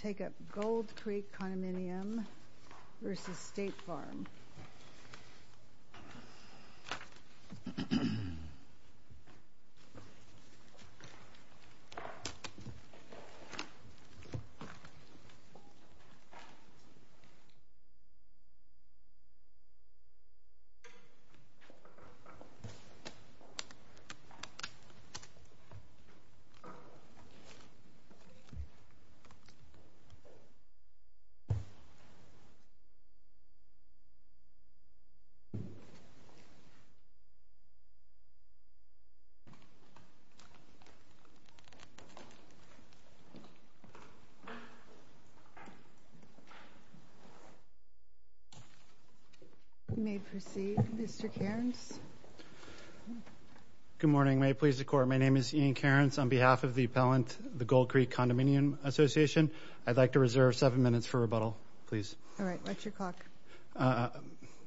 Take up Gold Creek Condominium v. State Farm Take up Gold Creek Condominium-Phase I Association of Apar v. State Farm Fire and Casualty Company You may proceed, Mr. Cairns. Good morning. May it please the Court, my name is Ian Cairns. On behalf of the appellant, the Gold Creek Condominium Association, I'd like to reserve seven minutes for rebuttal, please. All right, what's your clock?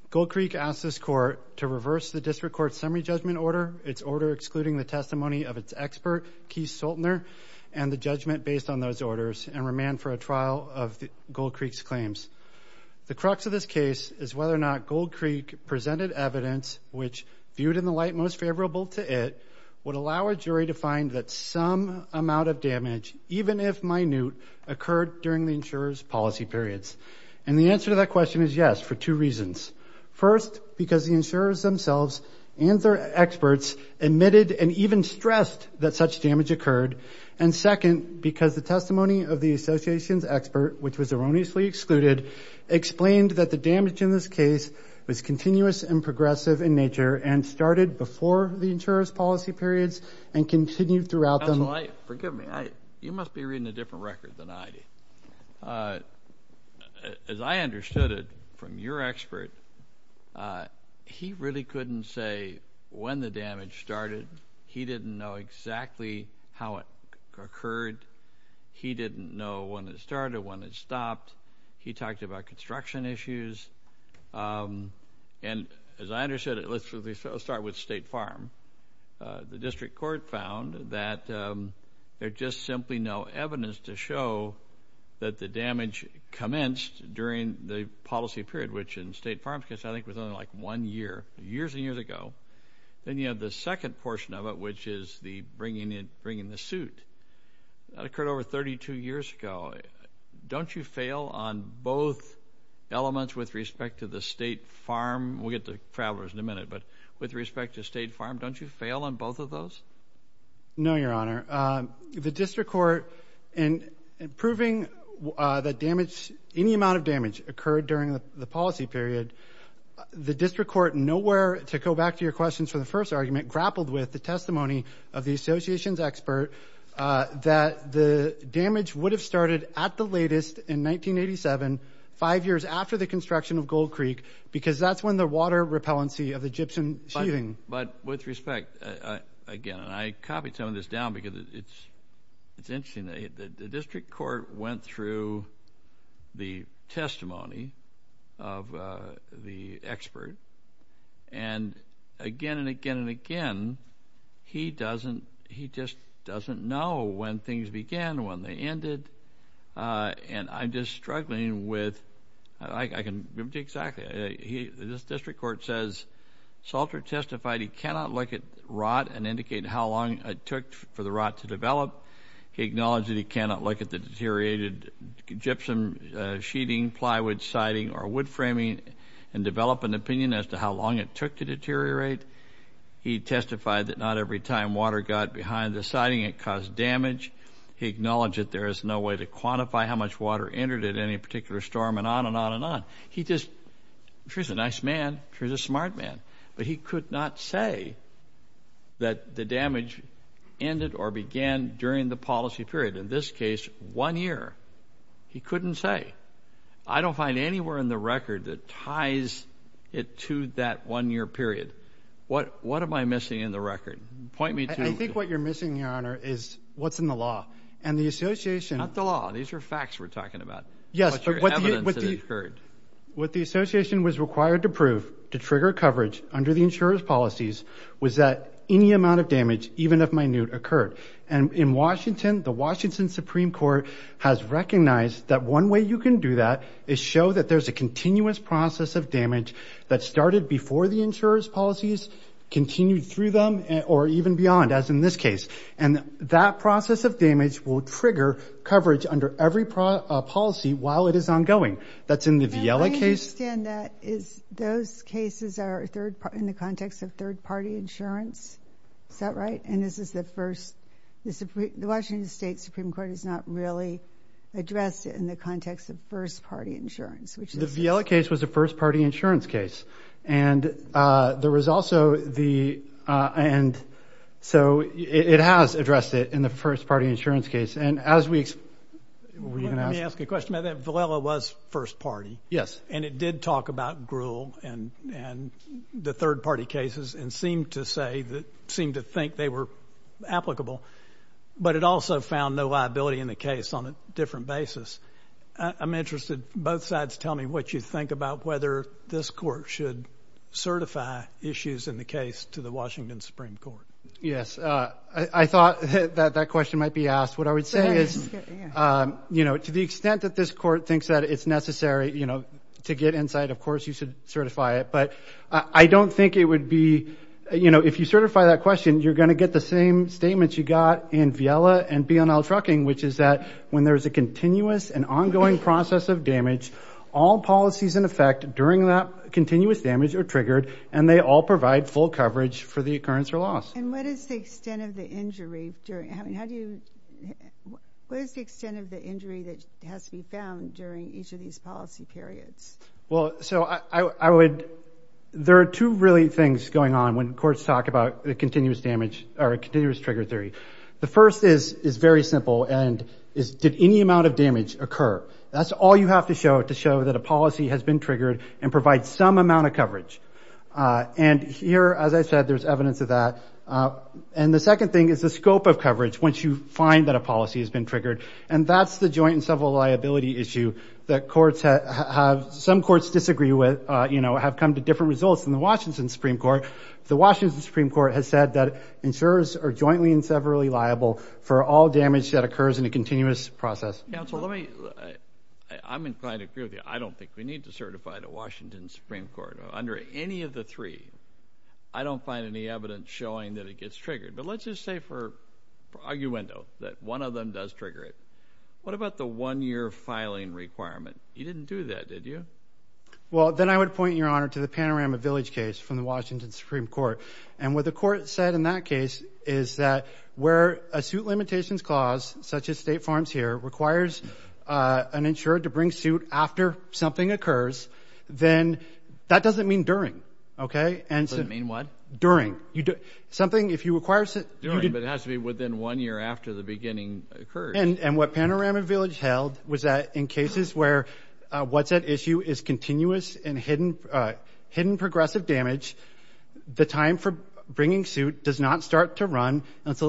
Gold Creek asked this Court to reverse the District Court's summary judgment order, its order excluding the testimony of its expert, Keith Soltner, and the judgment based on those orders, and remand for a trial of Gold Creek's claims. The crux of this case is whether or not Gold Creek presented evidence which, viewed in the light most favorable to it, would allow a jury to find that some amount of damage, even if minute, occurred during the insurer's policy periods. And the answer to that question is yes, for two reasons. First, because the insurers themselves and their experts admitted and even stressed that such damage occurred. And second, because the testimony of the association's expert, which was erroneously excluded, explained that the damage in this case was continuous and progressive in nature and started before the insurer's policy periods and continued throughout them. Counsel, forgive me. You must be reading a different record than I do. As I understood it from your expert, he really couldn't say when the damage started. He didn't know exactly how it occurred. He didn't know when it started, when it stopped. He talked about construction issues. And as I understood it, let's start with State Farm. The district court found that there's just simply no evidence to show that the damage commenced during the policy period, which in State Farm's case I think was only like one year, years and years ago. Then you have the second portion of it, which is the bringing in the suit. That occurred over 32 years ago. Don't you fail on both elements with respect to the State Farm? We'll get to travelers in a minute. But with respect to State Farm, don't you fail on both of those? No, Your Honor. The district court, in proving that any amount of damage occurred during the policy period, the district court, nowhere to go back to your questions for the first argument, grappled with the testimony of the association's expert that the damage would have started at the latest in 1987, five years after the construction of Gold Creek, because that's when the water repellency of the gypsum sheathing. But with respect, again, and I copied some of this down because it's interesting. The district court went through the testimony of the expert. And again and again and again, he doesn't, he just doesn't know when things began, when they ended. And I'm just struggling with, I can give it to you exactly. The district court says, Salter testified he cannot look at rot and indicate how long it took for the rot to develop. He acknowledged that he cannot look at the deteriorated gypsum sheathing, plywood siding, or wood framing and develop an opinion as to how long it took to deteriorate. He testified that not every time water got behind the siding it caused damage. He acknowledged that there is no way to quantify how much water entered at any particular storm, and on and on and on. He just, sure, he's a nice man. Sure, he's a smart man. But he could not say that the damage ended or began during the policy period. In this case, one year. He couldn't say. I don't find anywhere in the record that ties it to that one-year period. What am I missing in the record? Point me to. I think what you're missing, Your Honor, is what's in the law. And the association. Not the law. These are facts we're talking about. Yes, but what the association was required to prove to trigger coverage under the insurer's policies was that any amount of damage, even if minute, occurred. And in Washington, the Washington Supreme Court has recognized that one way you can do that is show that there's a continuous process of damage that started before the insurer's policies, continued through them, or even beyond, as in this case. And that process of damage will trigger coverage under every policy while it is ongoing. That's in the Vielle case. And I understand that those cases are in the context of third-party insurance. Is that right? And this is the first. The Washington State Supreme Court has not really addressed it in the context of first-party insurance. The Vielle case was a first-party insurance case. And there was also the – and so it has addressed it in the first-party insurance case. And as we – were you going to ask? Let me ask a question about that. Vielle was first-party. Yes. And it did talk about Gruhl and the third-party cases and seemed to say that – seemed to think they were applicable. But it also found no liability in the case on a different basis. I'm interested. Both sides tell me what you think about whether this court should certify issues in the case to the Washington Supreme Court. Yes. I thought that that question might be asked. What I would say is, you know, to the extent that this court thinks that it's necessary, you know, to get insight, of course you should certify it. But I don't think it would be – you know, if you certify that question, you're going to get the same statements you got in Vielle and Bionel Trucking, which is that when there is a continuous and ongoing process of damage, all policies in effect during that continuous damage are triggered and they all provide full coverage for the occurrence or loss. And what is the extent of the injury during – I mean, how do you – what is the extent of the injury that has to be found during each of these policy periods? Well, so I would – there are two really things going on when courts talk about a continuous damage or a continuous trigger theory. The first is very simple and is did any amount of damage occur? That's all you have to show to show that a policy has been triggered and provides some amount of coverage. And here, as I said, there's evidence of that. And the second thing is the scope of coverage once you find that a policy has been triggered. And that's the joint and several liability issue that courts have – some courts disagree with, you know, have come to different results than the Washington Supreme Court. The Washington Supreme Court has said that insurers are jointly and severally liable for all damage that occurs in a continuous process. Counsel, let me – I'm inclined to agree with you. I don't think we need to certify the Washington Supreme Court under any of the three. I don't find any evidence showing that it gets triggered. But let's just say for arguendo that one of them does trigger it. What about the one-year filing requirement? You didn't do that, did you? Well, then I would point, Your Honor, to the Panorama Village case from the Washington Supreme Court. And what the court said in that case is that where a suit limitations clause, such as State Farms here, requires an insurer to bring suit after something occurs, then that doesn't mean during, okay? It doesn't mean what? During. Something – if you require – During, but it has to be within one year after the beginning occurs. And what Panorama Village held was that in cases where what's at issue is continuous until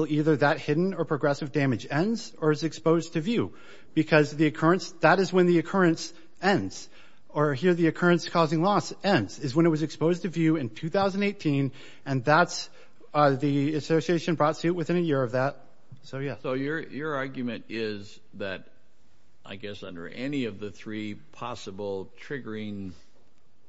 either that hidden or progressive damage ends or is exposed to view. Because the occurrence – that is when the occurrence ends. Or here the occurrence causing loss ends is when it was exposed to view in 2018. And that's – the association brought suit within a year of that. So, yeah. So your argument is that, I guess, under any of the three possible triggering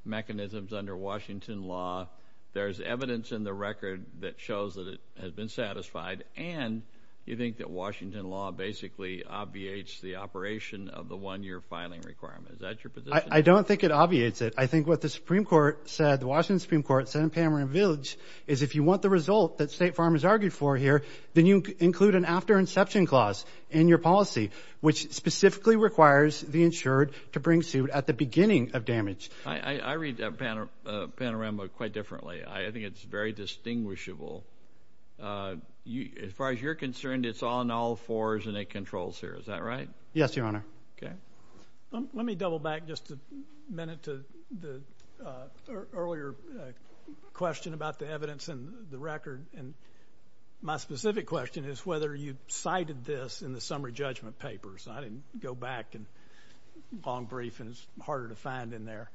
mechanisms under Washington law, there's evidence in the record that shows that it has been satisfied and you think that Washington law basically obviates the operation of the one-year filing requirement. Is that your position? I don't think it obviates it. I think what the Supreme Court said, the Washington Supreme Court said in Panorama Village, is if you want the result that State Farmers argued for here, then you include an after-inception clause in your policy, which specifically requires the insured to bring suit at the beginning of damage. I read Panorama quite differently. I think it's very distinguishable. As far as you're concerned, it's on all fours and it controls here. Is that right? Yes, Your Honor. Okay. Let me double back just a minute to the earlier question about the evidence in the record. And my specific question is whether you cited this in the summary judgment papers. I didn't go back and long brief, and it's harder to find in there.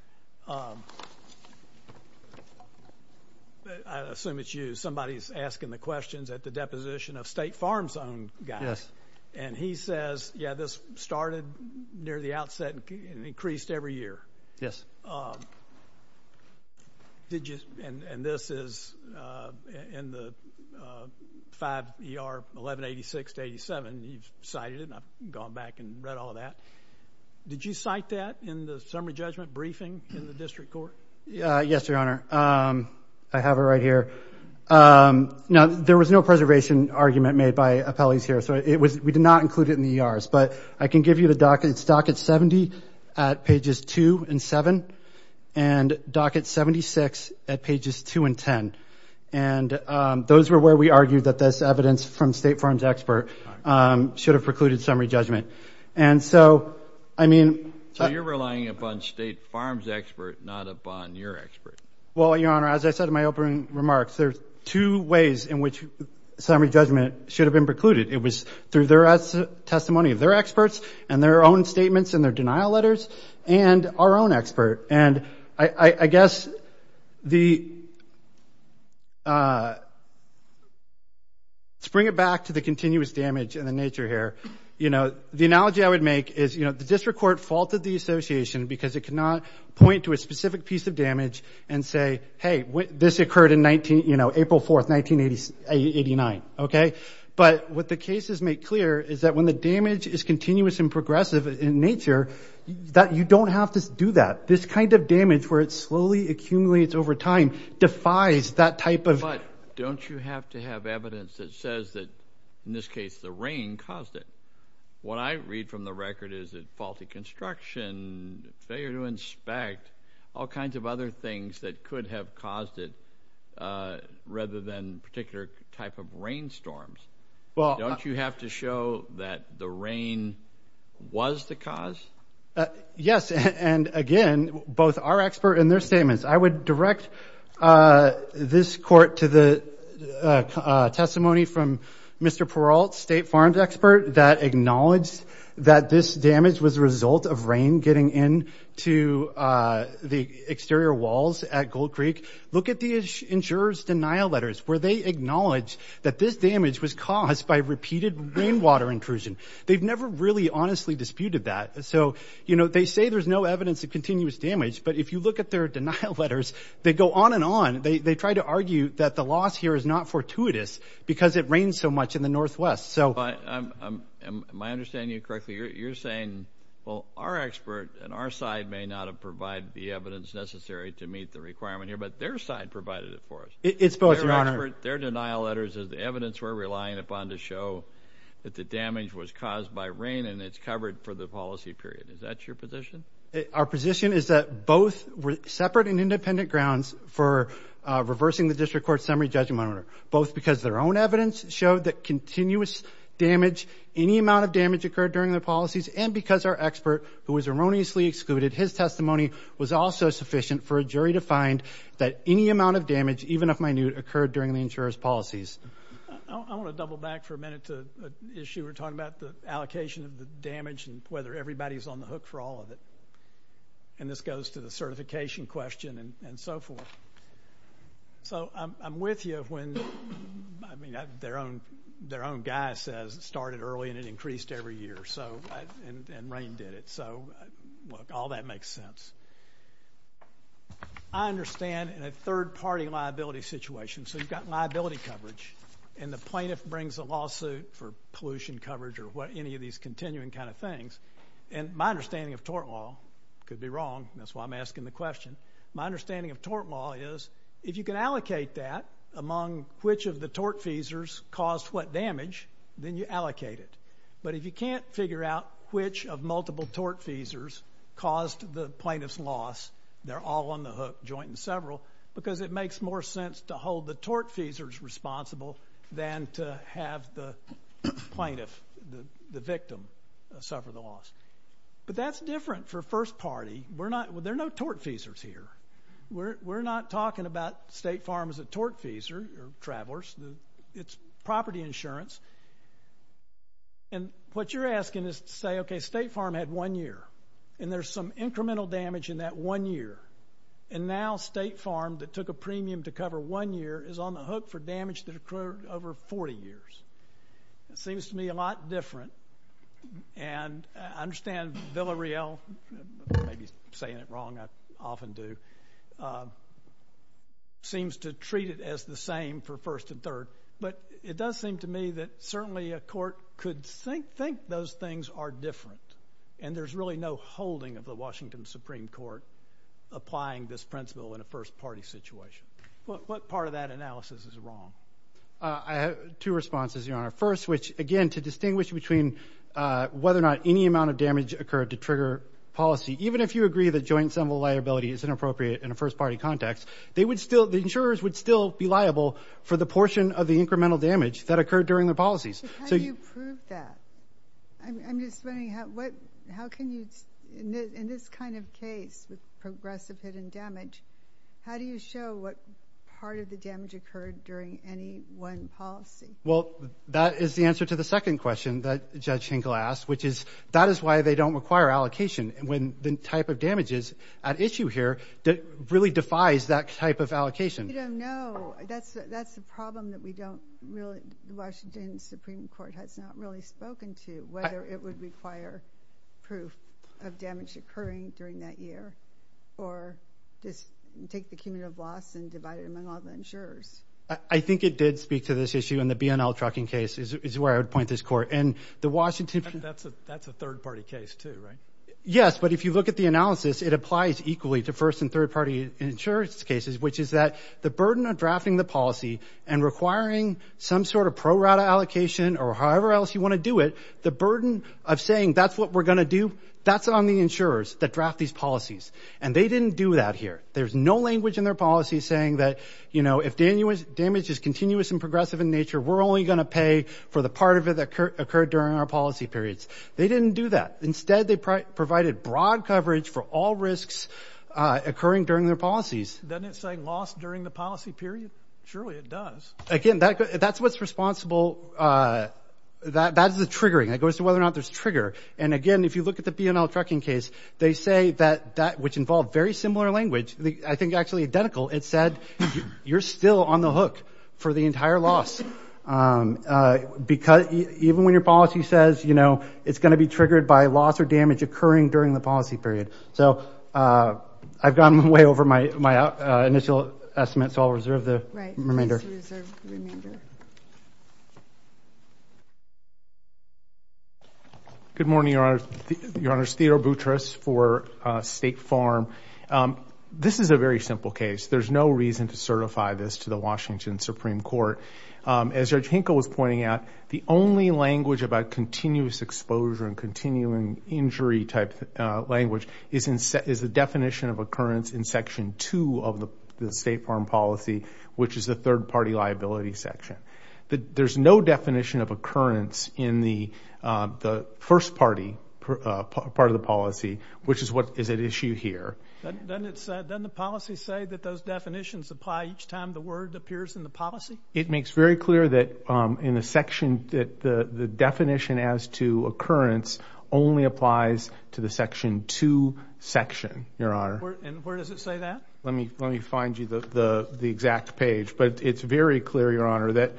I assume it's you. Somebody's asking the questions at the deposition of State Farms' own guys. Yes. And he says, yeah, this started near the outset and increased every year. Yes. And this is in the 5 ER 1186-87. You've cited it, and I've gone back and read all of that. Did you cite that in the summary judgment briefing in the district court? Yes, Your Honor. I have it right here. Now, there was no preservation argument made by appellees here, so we did not include it in the ERs. But I can give you the docket. It's docket 70 at pages 2 and 7 and docket 76 at pages 2 and 10. And those were where we argued that this evidence from State Farms' expert should have precluded summary judgment. And so, I mean – So you're relying upon State Farms' expert, not upon your expert. Well, Your Honor, as I said in my opening remarks, there are two ways in which summary judgment should have been precluded. It was through their testimony of their experts and their own statements in their denial letters and our own expert. And I guess the – let's bring it back to the continuous damage and the nature here. You know, the analogy I would make is, you know, the district court faulted the association because it could not point to a specific piece of damage and say, hey, this occurred in April 4, 1989, okay? But what the cases make clear is that when the damage is continuous and progressive in nature, that you don't have to do that. This kind of damage where it slowly accumulates over time defies that type of – But don't you have to have evidence that says that, in this case, the rain caused it? What I read from the record is that faulty construction, failure to inspect, all kinds of other things that could have caused it rather than particular type of rainstorms. Don't you have to show that the rain was the cause? Yes. And, again, both our expert and their statements. I would direct this court to the testimony from Mr. Peralt, state farms expert, that acknowledged that this damage was a result of rain getting into the exterior walls at Gold Creek. Look at the insurer's denial letters where they acknowledge that this damage was caused by repeated rainwater intrusion. They've never really honestly disputed that. So, you know, they say there's no evidence of continuous damage. But if you look at their denial letters, they go on and on. They try to argue that the loss here is not fortuitous because it rained so much in the northwest. Am I understanding you correctly? You're saying, well, our expert and our side may not have provided the evidence necessary to meet the requirement here, but their side provided it for us? It's both, Your Honor. Their denial letters is the evidence we're relying upon to show that the damage was caused by rain and it's covered for the policy period. Is that your position? Our position is that both separate and independent grounds for reversing the district court's summary judgment, Your Honor, both because their own evidence showed that continuous damage, any amount of damage occurred during their policies, and because our expert, who was erroneously excluded, his testimony was also sufficient for a jury to find that any amount of damage, even if minute, occurred during the insurer's policies. I want to double back for a minute to an issue we're talking about, the allocation of the damage and whether everybody's on the hook for all of it. And this goes to the certification question and so forth. So I'm with you when, I mean, their own guy says it started early and it increased every year, and rain did it. So, look, all that makes sense. I understand in a third-party liability situation, so you've got liability coverage, and the plaintiff brings a lawsuit for pollution coverage or any of these continuing kind of things, and my understanding of tort law could be wrong, and that's why I'm asking the question. My understanding of tort law is if you can allocate that among which of the tortfeasors caused what damage, then you allocate it. But if you can't figure out which of multiple tortfeasors caused the plaintiff's loss, they're all on the hook, joint and several, because it makes more sense to hold the tortfeasors responsible than to have the plaintiff, the victim, suffer the loss. But that's different for first party. There are no tortfeasors here. We're not talking about State Farm as a tortfeasor or travelers. It's property insurance. And what you're asking is to say, okay, State Farm had one year, and there's some incremental damage in that one year, and now State Farm that took a premium to cover one year is on the hook for damage that occurred over 40 years. It seems to me a lot different, and I understand Villareal may be saying it wrong. I often do. Seems to treat it as the same for first and third, but it does seem to me that certainly a court could think those things are different, and there's really no holding of the Washington Supreme Court applying this principle in a first party situation. What part of that analysis is wrong? I have two responses, Your Honor. First, which, again, to distinguish between whether or not any amount of damage occurred to trigger policy, even if you agree that joint symbol liability is inappropriate in a first party context, the insurers would still be liable for the portion of the incremental damage that occurred during the policies. So how do you prove that? I'm just wondering how can you in this kind of case with progressive hidden damage, how do you show what part of the damage occurred during any one policy? Well, that is the answer to the second question that Judge Hinkle asked, which is that is why they don't require allocation when the type of damages at issue here really defies that type of allocation. You don't know. That's the problem that we don't really, the Washington Supreme Court has not really spoken to, whether it would require proof of damage occurring during that year or just take the cumulative loss and divide it among all the insurers. I think it did speak to this issue in the B&L trucking case is where I would point this court. That's a third party case too, right? Yes, but if you look at the analysis, it applies equally to first and third party insurance cases, which is that the burden of drafting the policy and requiring some sort of pro rata allocation or however else you want to do it, the burden of saying that's what we're going to do, that's on the insurers that draft these policies. And they didn't do that here. There's no language in their policy saying that if damage is continuous and progressive in nature, we're only going to pay for the part of it that occurred during our policy periods. They didn't do that. Instead, they provided broad coverage for all risks occurring during their policies. Doesn't it say loss during the policy period? Surely it does. Again, that's what's responsible. That is the triggering. That goes to whether or not there's trigger. And, again, if you look at the B&L trucking case, they say that which involved very similar language, I think actually identical, it said you're still on the hook for the entire loss. Because even when your policy says, you know, it's going to be triggered by loss or damage occurring during the policy period. So I've gone way over my initial estimate, so I'll reserve the remainder. Good morning, Your Honor. Your Honor, Theodore Boutrous for State Farm. This is a very simple case. There's no reason to certify this to the Washington Supreme Court. As Judge Hinkle was pointing out, the only language about continuous exposure and continuing injury type language is the definition of occurrence in Section 2 of the State Farm policy, which is the third part of the State Farm policy. There's no definition of occurrence in the first part of the policy, which is what is at issue here. Doesn't the policy say that those definitions apply each time the word appears in the policy? It makes very clear that the definition as to occurrence only applies to the Section 2 section, Your Honor. And where does it say that? Let me find you the exact page. But it's very clear, Your Honor, that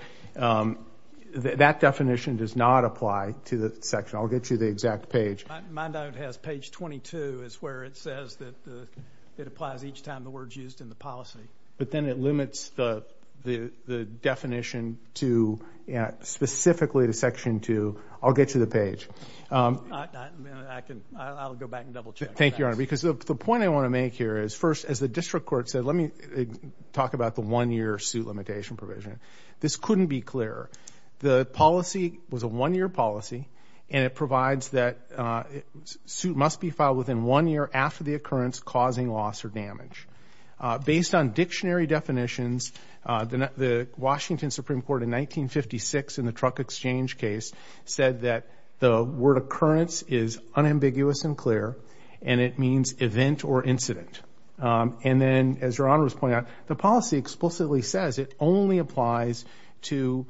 that definition does not apply to the section. I'll get you the exact page. My note has page 22 is where it says that it applies each time the word's used in the policy. But then it limits the definition specifically to Section 2. I'll get you the page. I'll go back and double-check. Thank you, Your Honor. Because the point I want to make here is, first, as the district court said, let me talk about the one-year suit limitation provision. This couldn't be clearer. The policy was a one-year policy, and it provides that a suit must be filed within one year after the occurrence causing loss or damage. Based on dictionary definitions, the Washington Supreme Court in 1956 in the Truck Exchange case said that the word occurrence is unambiguous and clear, and it means event or incident. And then, as Your Honor was pointing out, the policy explicitly says it only applies to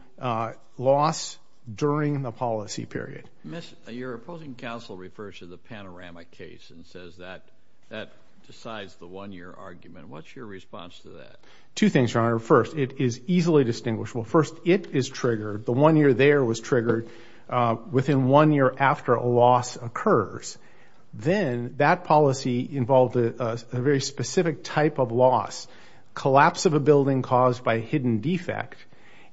loss during the policy period. Miss, your opposing counsel refers to the Panorama case and says that that decides the one-year argument. What's your response to that? Two things, Your Honor. First, it is easily distinguishable. First, it is triggered. The one year there was triggered within one year after a loss occurs. Then that policy involved a very specific type of loss, collapse of a building caused by a hidden defect.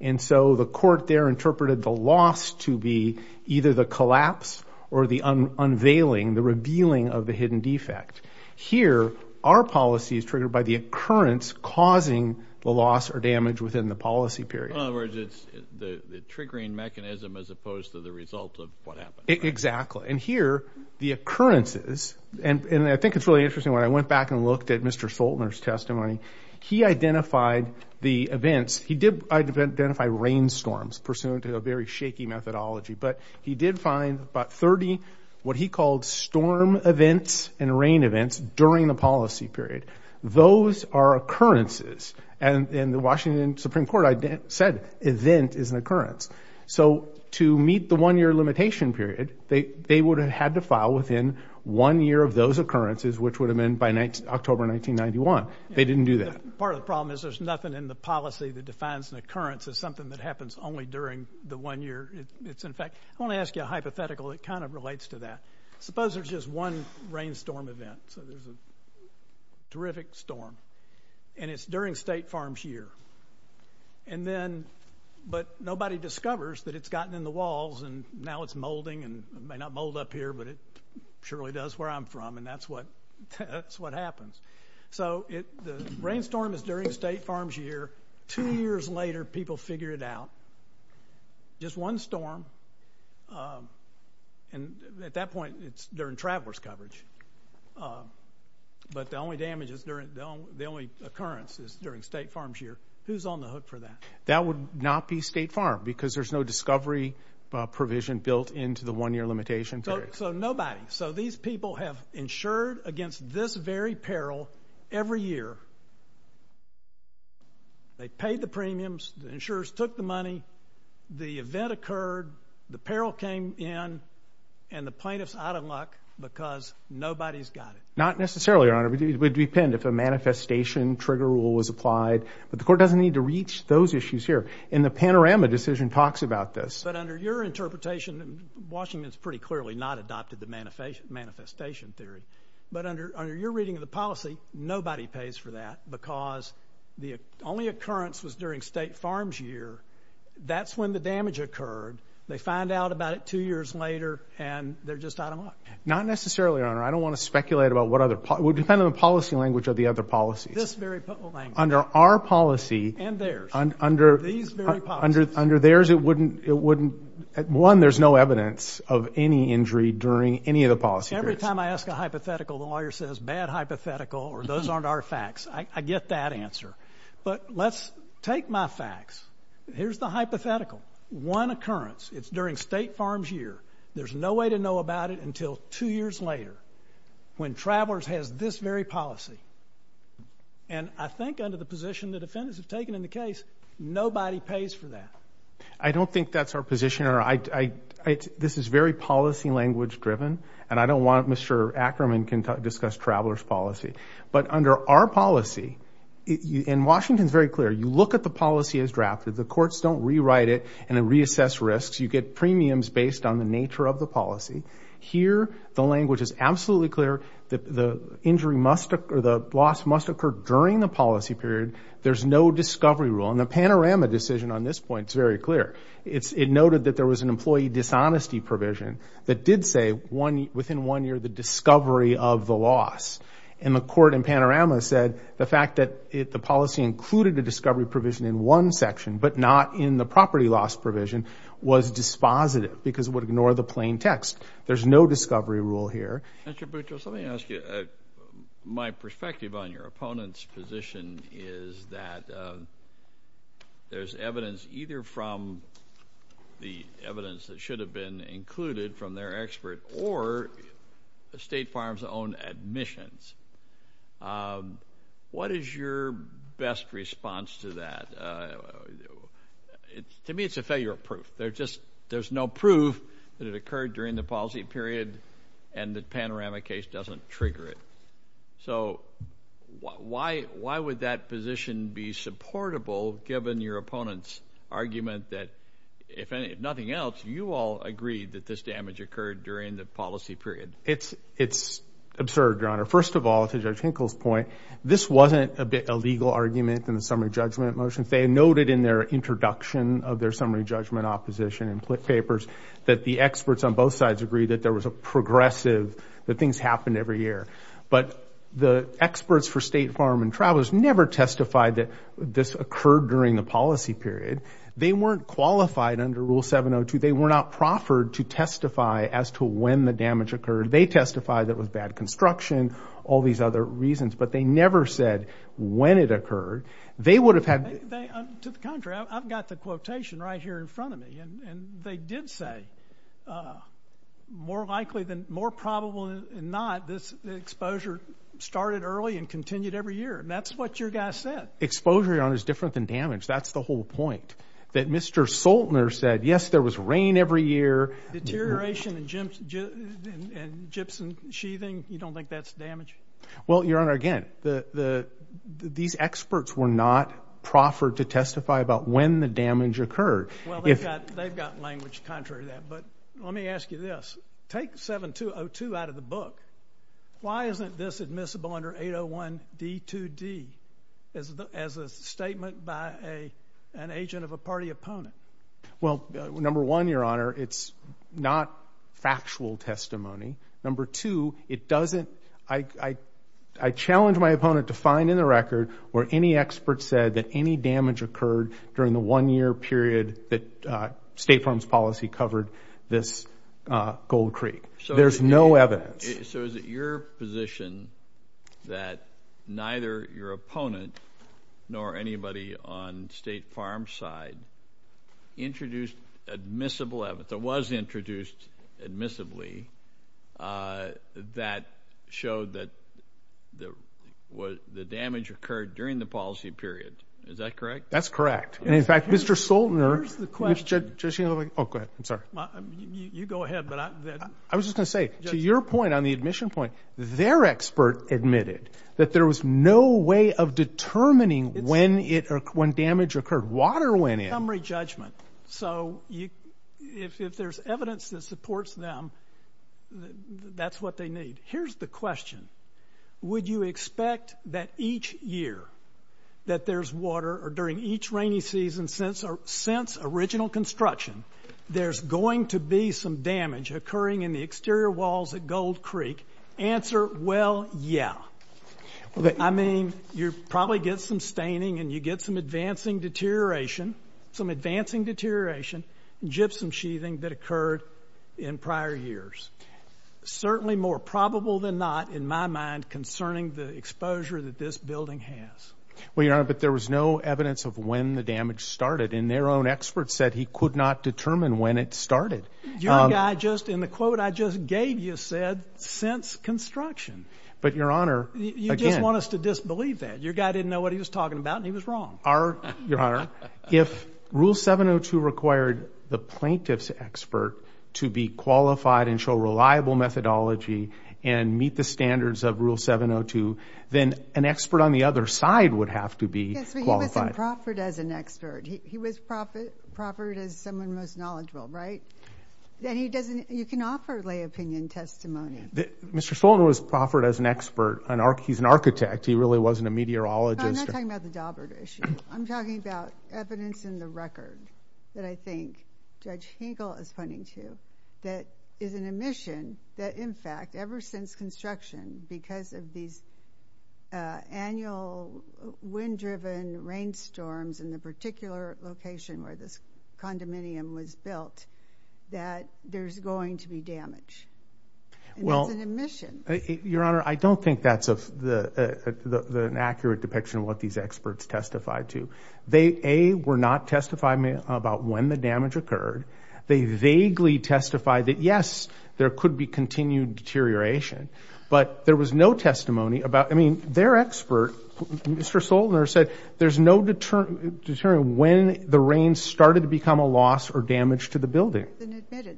And so the court there interpreted the loss to be either the collapse or the unveiling, the revealing of the hidden defect. Here, our policy is triggered by the occurrence causing the loss or damage within the policy period. So in other words, it's the triggering mechanism as opposed to the result of what happened. Exactly. And here, the occurrences, and I think it's really interesting. When I went back and looked at Mr. Soltner's testimony, he identified the events. He did identify rainstorms pursuant to a very shaky methodology, but he did find about 30 what he called storm events and rain events during the policy period. Those are occurrences. And in the Washington Supreme Court, I said event is an occurrence. So to meet the one year limitation period, they would have had to file within one year of those occurrences, which would have been by October 1991. They didn't do that. Part of the problem is there's nothing in the policy that defines an occurrence as something that happens only during the one year. It's, in fact, I want to ask you a hypothetical that kind of relates to that. Suppose there's just one rainstorm event. So there's a terrific storm. And it's during State Farm's year. And then, but nobody discovers that it's gotten in the walls and now it's molding and may not mold up here, but it surely does where I'm from, and that's what happens. So the rainstorm is during State Farm's year. Two years later, people figure it out. Just one storm. And at that point, it's during traveler's coverage. But the only damage is during, the only occurrence is during State Farm's year. Who's on the hook for that? That would not be State Farm because there's no discovery provision built into the one year limitation period. So nobody. So these people have insured against this very peril every year. They paid the premiums. The insurers took the money. The event occurred. The peril came in. And the plaintiff's out of luck because nobody's got it. Not necessarily, Your Honor. We'd be pinned if a manifestation trigger rule was applied. But the court doesn't need to reach those issues here. And the panorama decision talks about this. But under your interpretation, and Washington's pretty clearly not adopted the manifestation theory, but under your reading of the policy, nobody pays for that because the only occurrence was during State Farm's year. That's when the damage occurred. They find out about it two years later, and they're just out of luck. Not necessarily, Your Honor. I don't want to speculate about what other, it would depend on the policy language of the other policies. This very language. Under our policy. And theirs. Under theirs, it wouldn't, one, there's no evidence of any injury during any of the policy periods. Every time I ask a hypothetical, the lawyer says bad hypothetical or those aren't our facts. I get that answer. But let's take my facts. Here's the hypothetical. One occurrence. It's during State Farm's year. There's no way to know about it until two years later when Travelers has this very policy. And I think under the position the defendants have taken in the case, nobody pays for that. I don't think that's our position. This is very policy language driven, and I don't want Mr. Ackerman to discuss Travelers' policy. But under our policy, and Washington's very clear, you look at the policy as drafted. The courts don't rewrite it and reassess risks. You get premiums based on the nature of the policy. Here, the language is absolutely clear. The injury must, or the loss must occur during the policy period. There's no discovery rule. And the Panorama decision on this point is very clear. It noted that there was an employee dishonesty provision that did say within one year the discovery of the loss. And the court in Panorama said the fact that the policy included the discovery provision in one section but not in the property loss provision was dispositive because it would ignore the plain text. There's no discovery rule here. Mr. Boutrous, let me ask you. My perspective on your opponent's position is that there's evidence either from the evidence that should have been included from their expert or State Farm's own admissions. What is your best response to that? To me, it's a failure of proof. There's no proof that it occurred during the policy period and the Panorama case doesn't trigger it. So why would that position be supportable given your opponent's argument that, if nothing else, you all agreed that this damage occurred during the policy period? It's absurd, Your Honor. First of all, to Judge Hinkle's point, this wasn't a legal argument in the summary judgment motions. They noted in their introduction of their summary judgment opposition in papers that the experts on both sides agreed that there was a progressive, that things happened every year. But the experts for State Farm and Travelers never testified that this occurred during the policy period. They weren't qualified under Rule 702. They were not proffered to testify as to when the damage occurred. They testified that it was bad construction, all these other reasons. But they never said when it occurred. They would have had... To the contrary, I've got the quotation right here in front of me. And they did say, more likely than more probable than not, this exposure started early and continued every year. And that's what your guy said. Exposure, Your Honor, is different than damage. That's the whole point, that Mr. Soltner said, yes, there was rain every year. Deterioration and gypsum sheathing, you don't think that's damage? Well, Your Honor, again, these experts were not proffered to testify about when the damage occurred. Well, they've got language contrary to that. But let me ask you this. Take 7202 out of the book. Why isn't this admissible under 801D2D as a statement by an agent of a party opponent? Well, number one, Your Honor, it's not factual testimony. Number two, it doesn't – I challenge my opponent to find in the record where any expert said that any damage occurred during the one-year period that State Farms policy covered this gold creek. There's no evidence. So is it your position that neither your opponent nor anybody on State Farms' side introduced admissible evidence? It was introduced admissibly that showed that the damage occurred during the policy period. Is that correct? That's correct. And, in fact, Mr. Soltner – Where's the question? Oh, go ahead. I'm sorry. You go ahead. I was just going to say, to your point on the admission point, their expert admitted that there was no way of determining when damage occurred. Water went in. Contemporary judgment. So if there's evidence that supports them, that's what they need. Here's the question. Would you expect that each year that there's water or during each rainy season since original construction, there's going to be some damage occurring in the exterior walls at Gold Creek? Answer, well, yeah. I mean, you probably get some staining and you get some advancing deterioration, some advancing deterioration, gypsum sheathing that occurred in prior years. Certainly more probable than not, in my mind, concerning the exposure that this building has. Well, Your Honor, but there was no evidence of when the damage started, and their own expert said he could not determine when it started. Your guy just, in the quote I just gave you, said since construction. But, Your Honor, again – You just want us to disbelieve that. Your guy didn't know what he was talking about, and he was wrong. Your Honor, if Rule 702 required the plaintiff's expert to be qualified and show reliable methodology and meet the standards of Rule 702, then an expert on the other side would have to be qualified. Yes, but he wasn't proffered as an expert. He was proffered as someone most knowledgeable, right? Then he doesn't... you can offer lay opinion testimony. Mr. Swanson was proffered as an expert. He's an architect. He really wasn't a meteorologist. No, I'm not talking about the Daubert issue. I'm talking about evidence in the record that I think Judge Hinkle is pointing to that is an omission that, in fact, ever since construction, because of these annual wind-driven rainstorms in the particular location where this condominium was built, that there's going to be damage. And it's an omission. Well, Your Honor, I don't think that's an accurate depiction of what these experts testified to. They, A, were not testifying about when the damage occurred. They vaguely testified that, yes, there could be continued deterioration. But there was no testimony about... I mean, their expert, Mr. Solner, said there's no deterrent when the rain started to become a loss or damage to the building.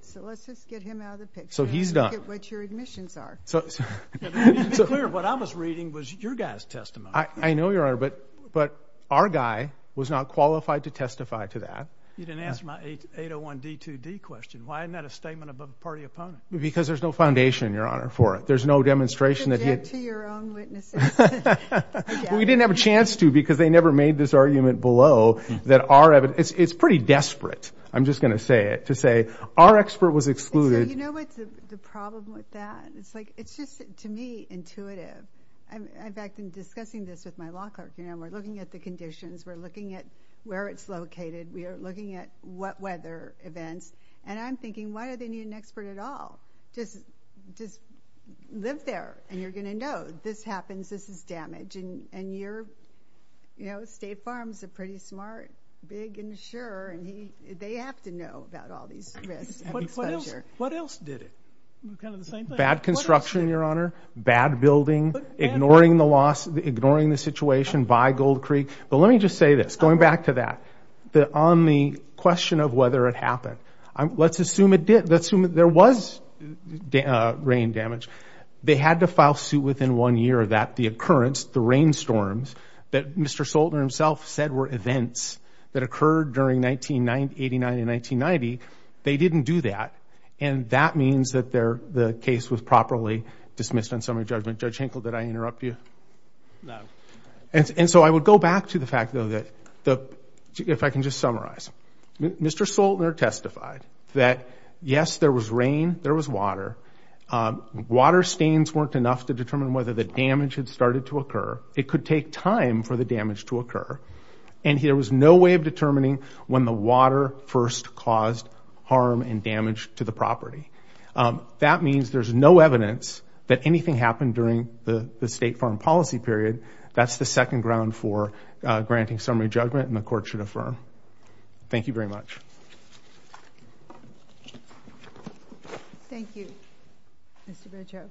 So let's just get him out of the picture. So he's done. Let's get what your admissions are. It's clear what I was reading was your guy's testimony. I know, Your Honor, but our guy was not qualified to testify to that. You didn't answer my 801D2D question. Why isn't that a statement above a party opponent? Because there's no foundation, Your Honor, for it. There's no demonstration that he had... Subject to your own witnesses. We didn't have a chance to because they never made this argument below that our evidence... it's pretty desperate, I'm just going to say it, to say our expert was excluded... And so you know what's the problem with that? It's just, to me, intuitive. In fact, in discussing this with my law clerk, we're looking at the conditions, we're looking at where it's located, we are looking at what weather events, and I'm thinking, why do they need an expert at all? Just live there, and you're going to know. This happens, this is damage, and you're... You know, State Farms is a pretty smart, big insurer, and they have to know about all these risks of exposure. What else did it? Bad construction, Your Honor, bad building, ignoring the loss, ignoring the situation by Gold Creek. But let me just say this, going back to that, on the question of whether it happened, let's assume it did. Let's assume there was rain damage. They had to file suit within one year that the occurrence, the rainstorms that Mr. Soltner himself said were events that occurred during 1989 and 1990, they didn't do that. And that means that the case was properly dismissed on summary judgment. Judge Hinkle, did I interrupt you? No. And so I would go back to the fact, though, that... If I can just summarize. Mr. Soltner testified that, yes, there was rain, there was water. Water stains weren't enough to determine whether the damage had started to occur. It could take time for the damage to occur. And there was no way of determining when the water first caused harm and damage to the property. That means there's no evidence that anything happened during the State Farm policy period. That's the second ground for granting summary judgment and the Court should affirm. Thank you very much. Thank you. Mr. Berger.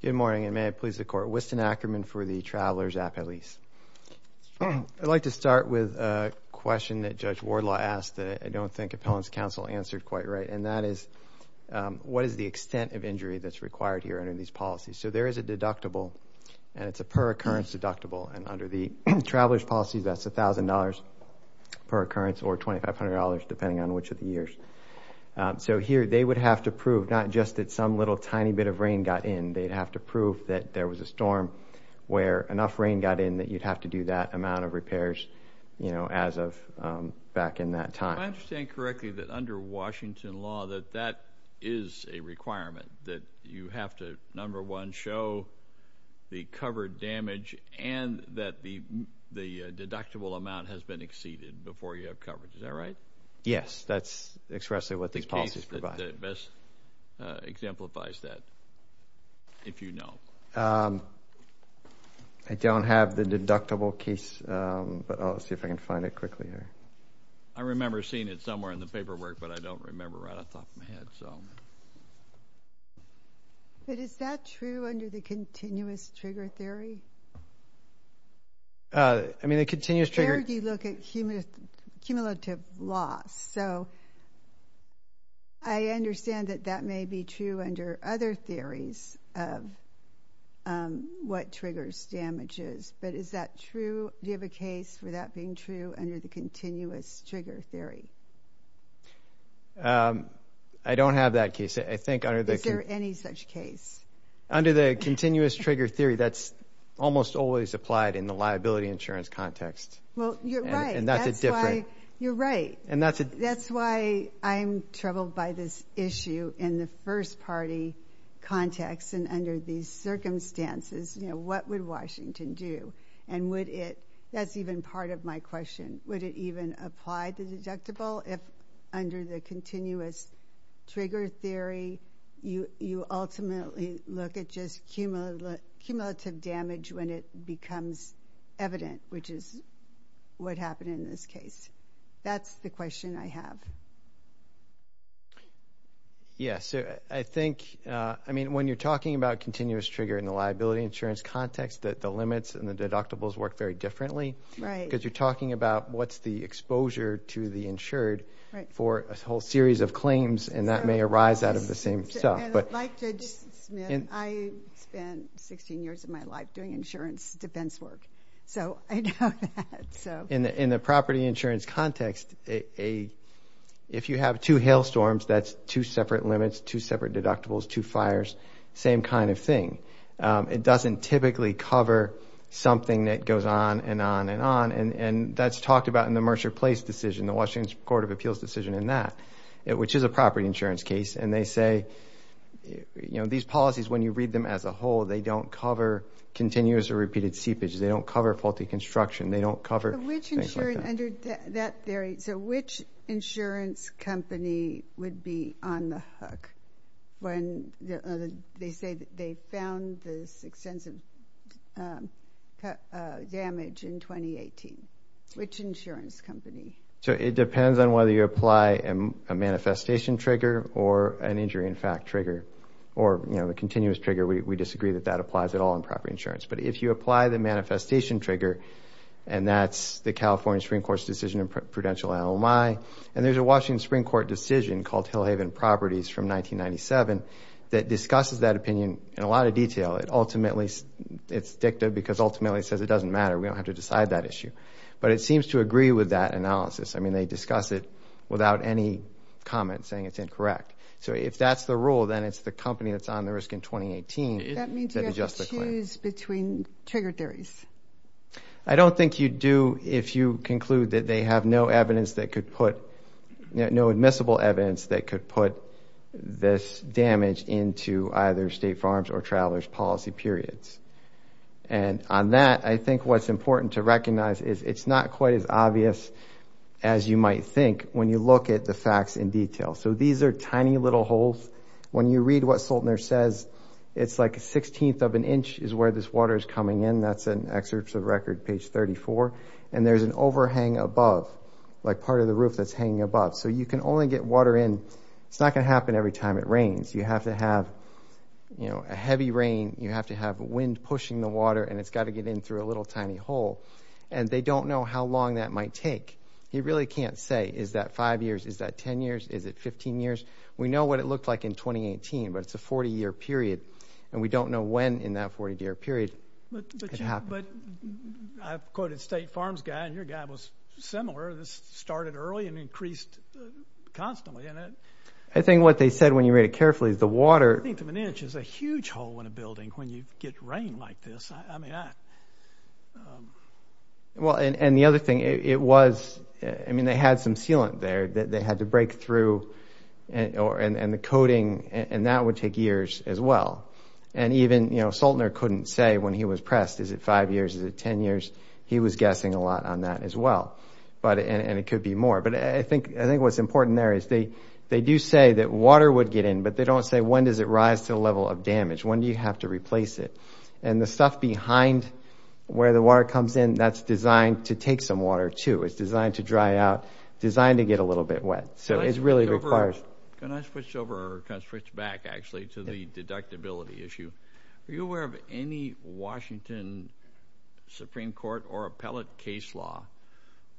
Good morning, and may it please the Court. Winston Ackerman for the Traveler's Appellees. I'd like to start with a question that Judge Wardlaw asked that I don't think Appellant's Counsel answered quite right, and that is what is the extent of injury that's required here under these policies? So there is a deductible, and it's a per-occurrence deductible, and under the Traveler's Policy, that's $1,000 per occurrence or $2,500 depending on which of the years. So here they would have to prove not just that some little tiny bit of rain got in. They'd have to prove that there was a storm where enough rain got in that you'd have to do that amount of repairs, you know, as of back in that time. Do I understand correctly that under Washington law that that is a requirement, that you have to, number one, show the covered damage and that the deductible amount has been exceeded before you have coverage? Is that right? Yes, that's expressly what these policies provide. The case that best exemplifies that, if you know. I don't have the deductible case, but I'll see if I can find it quickly here. I remember seeing it somewhere in the paperwork, but I don't remember right off the top of my head. But is that true under the Continuous Trigger Theory? I mean, the Continuous Trigger… Where do you look at cumulative loss? So I understand that that may be true under other theories of what triggers damages, but is that true? Do you have a case for that being true under the Continuous Trigger Theory? I don't have that case. Is there any such case? Under the Continuous Trigger Theory, that's almost always applied in the liability insurance context. Well, you're right. And that's a different… You're right. That's why I'm troubled by this issue in the first party context and under these circumstances. You know, what would Washington do? And would it… That's even part of my question. Would it even apply to deductible if, under the Continuous Trigger Theory, you ultimately look at just cumulative damage when it becomes evident, which is what happened in this case? That's the question I have. Yeah, so I think… I mean, when you're talking about continuous trigger in the liability insurance context, the limits and the deductibles work very differently. Right. Because you're talking about what's the exposure to the insured for a whole series of claims, and that may arise out of the same stuff. And like Judge Smith, I spent 16 years of my life doing insurance defense work, so I know that. In the property insurance context, if you have two hailstorms, that's two separate limits, two separate deductibles, two fires, same kind of thing. It doesn't typically cover something that goes on and on and on. And that's talked about in the Mercer Place decision, the Washington Court of Appeals decision in that, which is a property insurance case. And they say, you know, these policies, when you read them as a whole, they don't cover continuous or repeated seepage. They don't cover faulty construction. They don't cover things like that. So which insurance company would be on the hook when they say they found this extensive damage in 2018? Which insurance company? So it depends on whether you apply a manifestation trigger or an injury-in-fact trigger, or, you know, the continuous trigger. We disagree that that applies at all in property insurance. But if you apply the manifestation trigger, and that's the California Supreme Court's decision in prudential LMI, and there's a Washington Supreme Court decision called Hillhaven Properties from 1997 that discusses that opinion in a lot of detail. It ultimately, it's dicta because ultimately it says it doesn't matter. We don't have to decide that issue. But it seems to agree with that analysis. I mean, they discuss it without any comment saying it's incorrect. So if that's the rule, then it's the company that's on the risk in 2018. That means you have to choose between trigger theories. I don't think you do if you conclude that they have no evidence that could put, no admissible evidence that could put this damage into either State Farms or Travelers Policy periods. And on that, I think what's important to recognize is it's not quite as obvious as you might think when you look at the facts in detail. So these are tiny little holes. When you read what Soltner says, it's like a sixteenth of an inch is where this water is coming in. That's an excerpt of record, page 34. And there's an overhang above, like part of the roof that's hanging above. So you can only get water in. It's not going to happen every time it rains. You have to have, you know, a heavy rain. You have to have wind pushing the water, and it's got to get in through a little tiny hole. And they don't know how long that might take. You really can't say, is that five years? Is that 10 years? Is it 15 years? We know what it looked like in 2018, but it's a 40-year period, and we don't know when in that 40-year period it happened. But I've quoted State Farms guy, and your guy was similar. This started early and increased constantly. I think what they said when you read it carefully is the water— A sixteenth of an inch is a huge hole in a building when you get rain like this. I mean, I— Well, and the other thing, it was—I mean, they had some sealant there that they had to break through, and the coating, and that would take years as well. And even, you know, Saltner couldn't say when he was pressed, is it five years? Is it 10 years? He was guessing a lot on that as well, and it could be more. But I think what's important there is they do say that water would get in, but they don't say when does it rise to the level of damage. When do you have to replace it? And the stuff behind where the water comes in, that's designed to take some water too. It's designed to dry out, designed to get a little bit wet. So it really requires— Can I switch over or kind of switch back, actually, to the deductibility issue? Are you aware of any Washington Supreme Court or appellate case law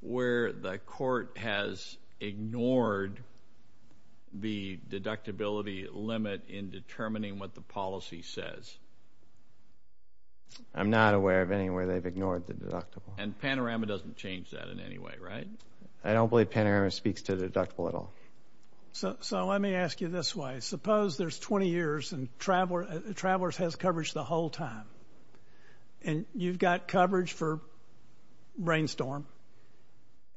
where the court has ignored the deductibility limit in determining what the policy says? I'm not aware of anywhere they've ignored the deductible. And Panorama doesn't change that in any way, right? I don't believe Panorama speaks to the deductible at all. So let me ask you this way. Suppose there's 20 years, and Travelers has coverage the whole time, and you've got coverage for Brainstorm,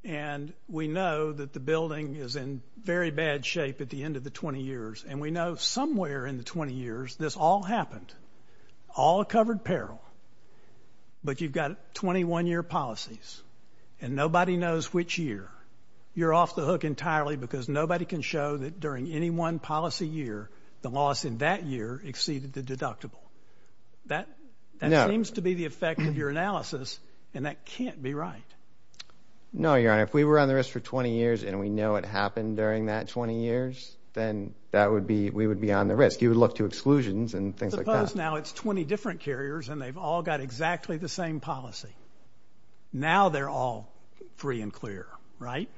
and we know that the building is in very bad shape at the end of the 20 years, and we know somewhere in the 20 years this all happened, all covered peril, but you've got 21-year policies and nobody knows which year. You're off the hook entirely because nobody can show that during any one policy year the loss in that year exceeded the deductible. That seems to be the effect of your analysis, and that can't be right. No, Your Honor. If we were on the risk for 20 years and we know it happened during that 20 years, then we would be on the risk. You would look to exclusions and things like that. Suppose now it's 20 different carriers and they've all got exactly the same policy. Now they're all free and clear, right?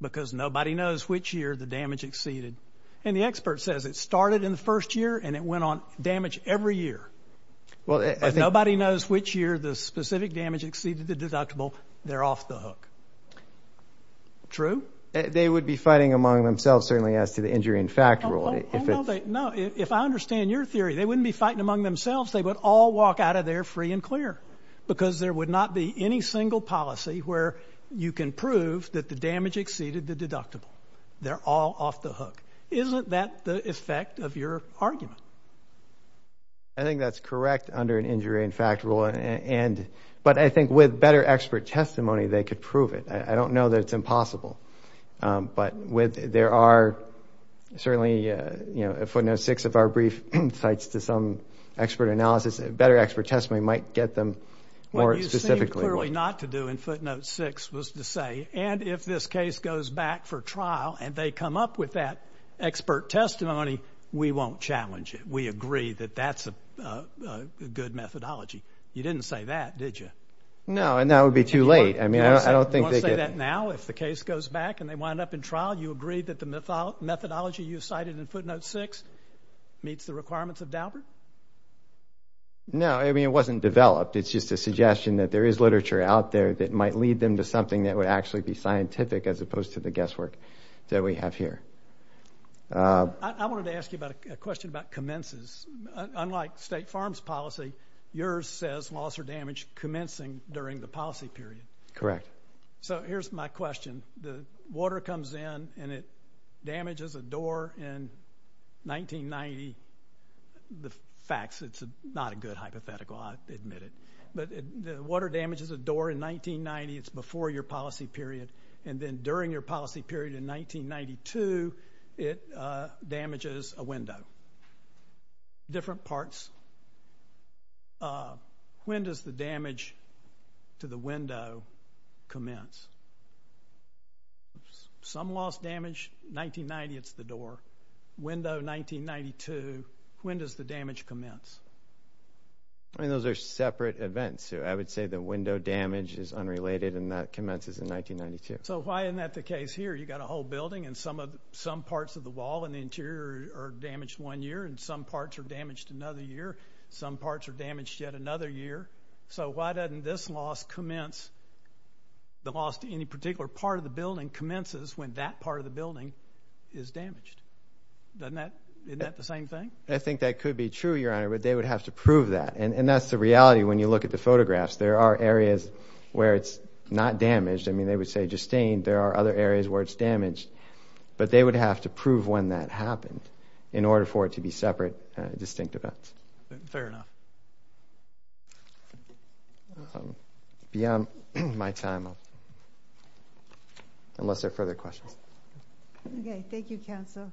Because nobody knows which year the damage exceeded. And the expert says it started in the first year and it went on damage every year. But nobody knows which year the specific damage exceeded the deductible. They're off the hook. True? They would be fighting among themselves certainly as to the injury in fact rule. No, if I understand your theory, they wouldn't be fighting among themselves. They would all walk out of there free and clear because there would not be any single policy where you can prove that the damage exceeded the deductible. They're all off the hook. Isn't that the effect of your argument? I think that's correct under an injury in fact rule. But I think with better expert testimony they could prove it. I don't know that it's impossible. But there are certainly Footnote 6 of our brief cites to some expert analysis. Better expert testimony might get them more specifically. What you seem clearly not to do in Footnote 6 was to say, and if this case goes back for trial and they come up with that expert testimony, we won't challenge it. We agree that that's a good methodology. You didn't say that, did you? No, and that would be too late. You want to say that now if the case goes back and they wind up in trial, you agree that the methodology you cited in Footnote 6 meets the requirements of Daubert? No, I mean it wasn't developed. It's just a suggestion that there is literature out there that might lead them to something that would actually be scientific as opposed to the guesswork that we have here. I wanted to ask you a question about commences. Unlike state farms policy, yours says loss or damage commencing during the policy period. Correct. So here's my question. The water comes in and it damages a door in 1990. The facts, it's not a good hypothetical, I admit it. But the water damages a door in 1990. It's before your policy period. And then during your policy period in 1992, it damages a window. Different parts. When does the damage to the window commence? Some loss damage, 1990 it's the door. Window, 1992. When does the damage commence? I mean, those are separate events. I would say the window damage is unrelated and that commences in 1992. So why isn't that the case here? You've got a whole building and some parts of the wall and the interior are damaged one year and some parts are damaged another year. Some parts are damaged yet another year. So why doesn't this loss commence, the loss to any particular part of the building, commences when that part of the building is damaged? Isn't that the same thing? I think that could be true, Your Honor, but they would have to prove that. And that's the reality when you look at the photographs. There are areas where it's not damaged. I mean, they would say just stained. There are other areas where it's damaged. But they would have to prove when that happened in order for it to be separate, distinct events. Fair enough. Beyond my time, unless there are further questions. Okay. Thank you, counsel. Counsel.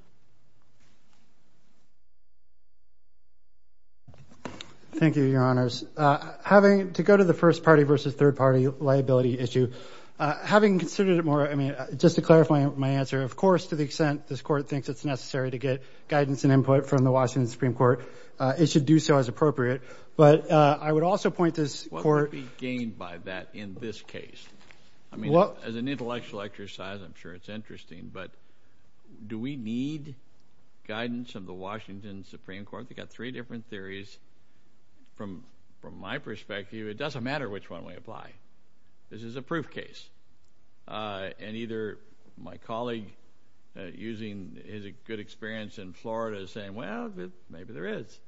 Thank you, Your Honors. Having to go to the first party versus third party liability issue, having considered it more, I mean, just to clarify my answer, of course, to the extent this Court thinks it's necessary to get guidance and input from the Washington Supreme Court, it should do so as appropriate. But I would also point this Court. Well, it would be gained by that in this case. I mean, as an intellectual exercise, I'm sure it's interesting. But do we need guidance of the Washington Supreme Court? They've got three different theories. From my perspective, it doesn't matter which one we apply. This is a proof case. And either my colleague using his good experience in Florida is saying, well, maybe there is.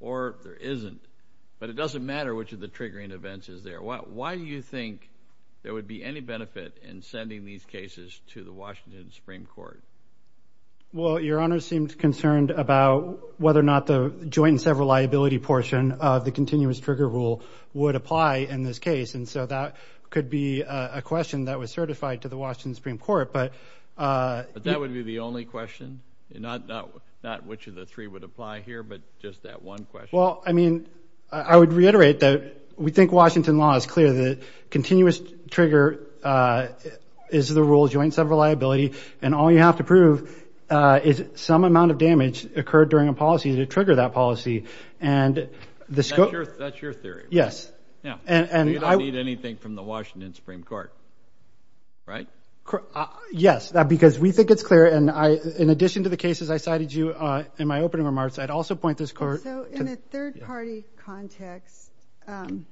Or there isn't. But it doesn't matter which of the triggering events is there. Why do you think there would be any benefit in sending these cases to the Washington Supreme Court? Well, Your Honors seemed concerned about whether or not the joint and several liability portion of the continuous trigger rule would apply in this case. And so that could be a question that was certified to the Washington Supreme Court. But that would be the only question? Not which of the three would apply here, but just that one question? Well, I mean, I would reiterate that we think Washington law is clear. The continuous trigger is the rule of joint and several liability. And all you have to prove is some amount of damage occurred during a policy to trigger that policy. And the scope. That's your theory? Yes. You don't need anything from the Washington Supreme Court, right? Yes. Because we think it's clear. And in addition to the cases I cited you in my opening remarks, I'd also point this Court. So in a third-party context, and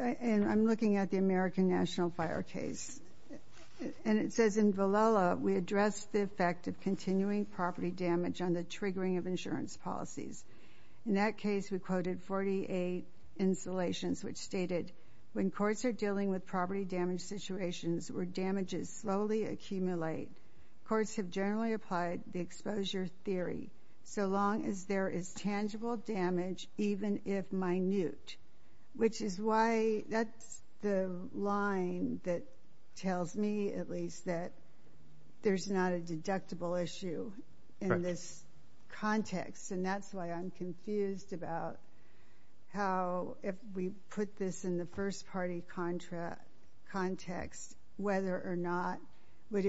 I'm looking at the American National Fire case, and it says in Villela, we address the effect of continuing property damage on the triggering of insurance policies. In that case, we quoted 48 installations which stated, when courts are dealing with property damage situations where damages slowly accumulate, courts have generally applied the exposure theory so long as there is tangible damage, even if minute. Which is why that's the line that tells me, at least, that there's not a deductible issue in this context. And that's why I'm confused about how, if we put this in the first-party context, whether or not would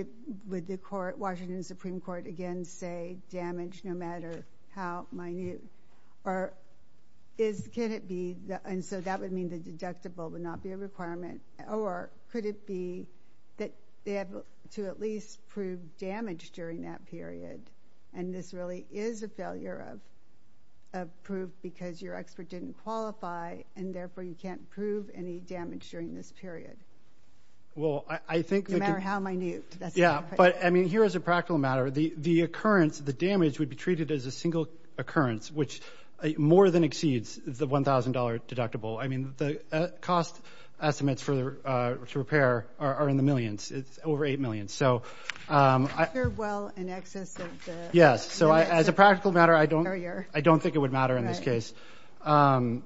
the Washington Supreme Court, again, say damage no matter how minute? And so that would mean the deductible would not be a requirement. Or could it be that they have to at least prove damage during that period? And this really is a failure of proof because your expert didn't qualify, and therefore you can't prove any damage during this period, no matter how minute. Yeah, but I mean, here as a practical matter, the occurrence, the damage would be treated as a single occurrence, which more than exceeds the $1,000 deductible. I mean, the cost estimates to repair are in the millions. It's over $8 million. So as a practical matter, I don't think it would matter in this case. Unless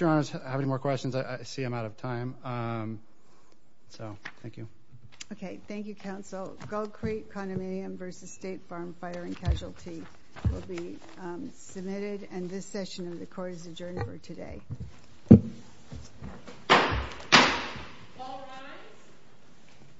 your honors have any more questions, I see I'm out of time. So, thank you. Okay, thank you, counsel. Gold Creek condominium versus state farm firing casualty will be submitted, and this session of the court is adjourned for today. All rise.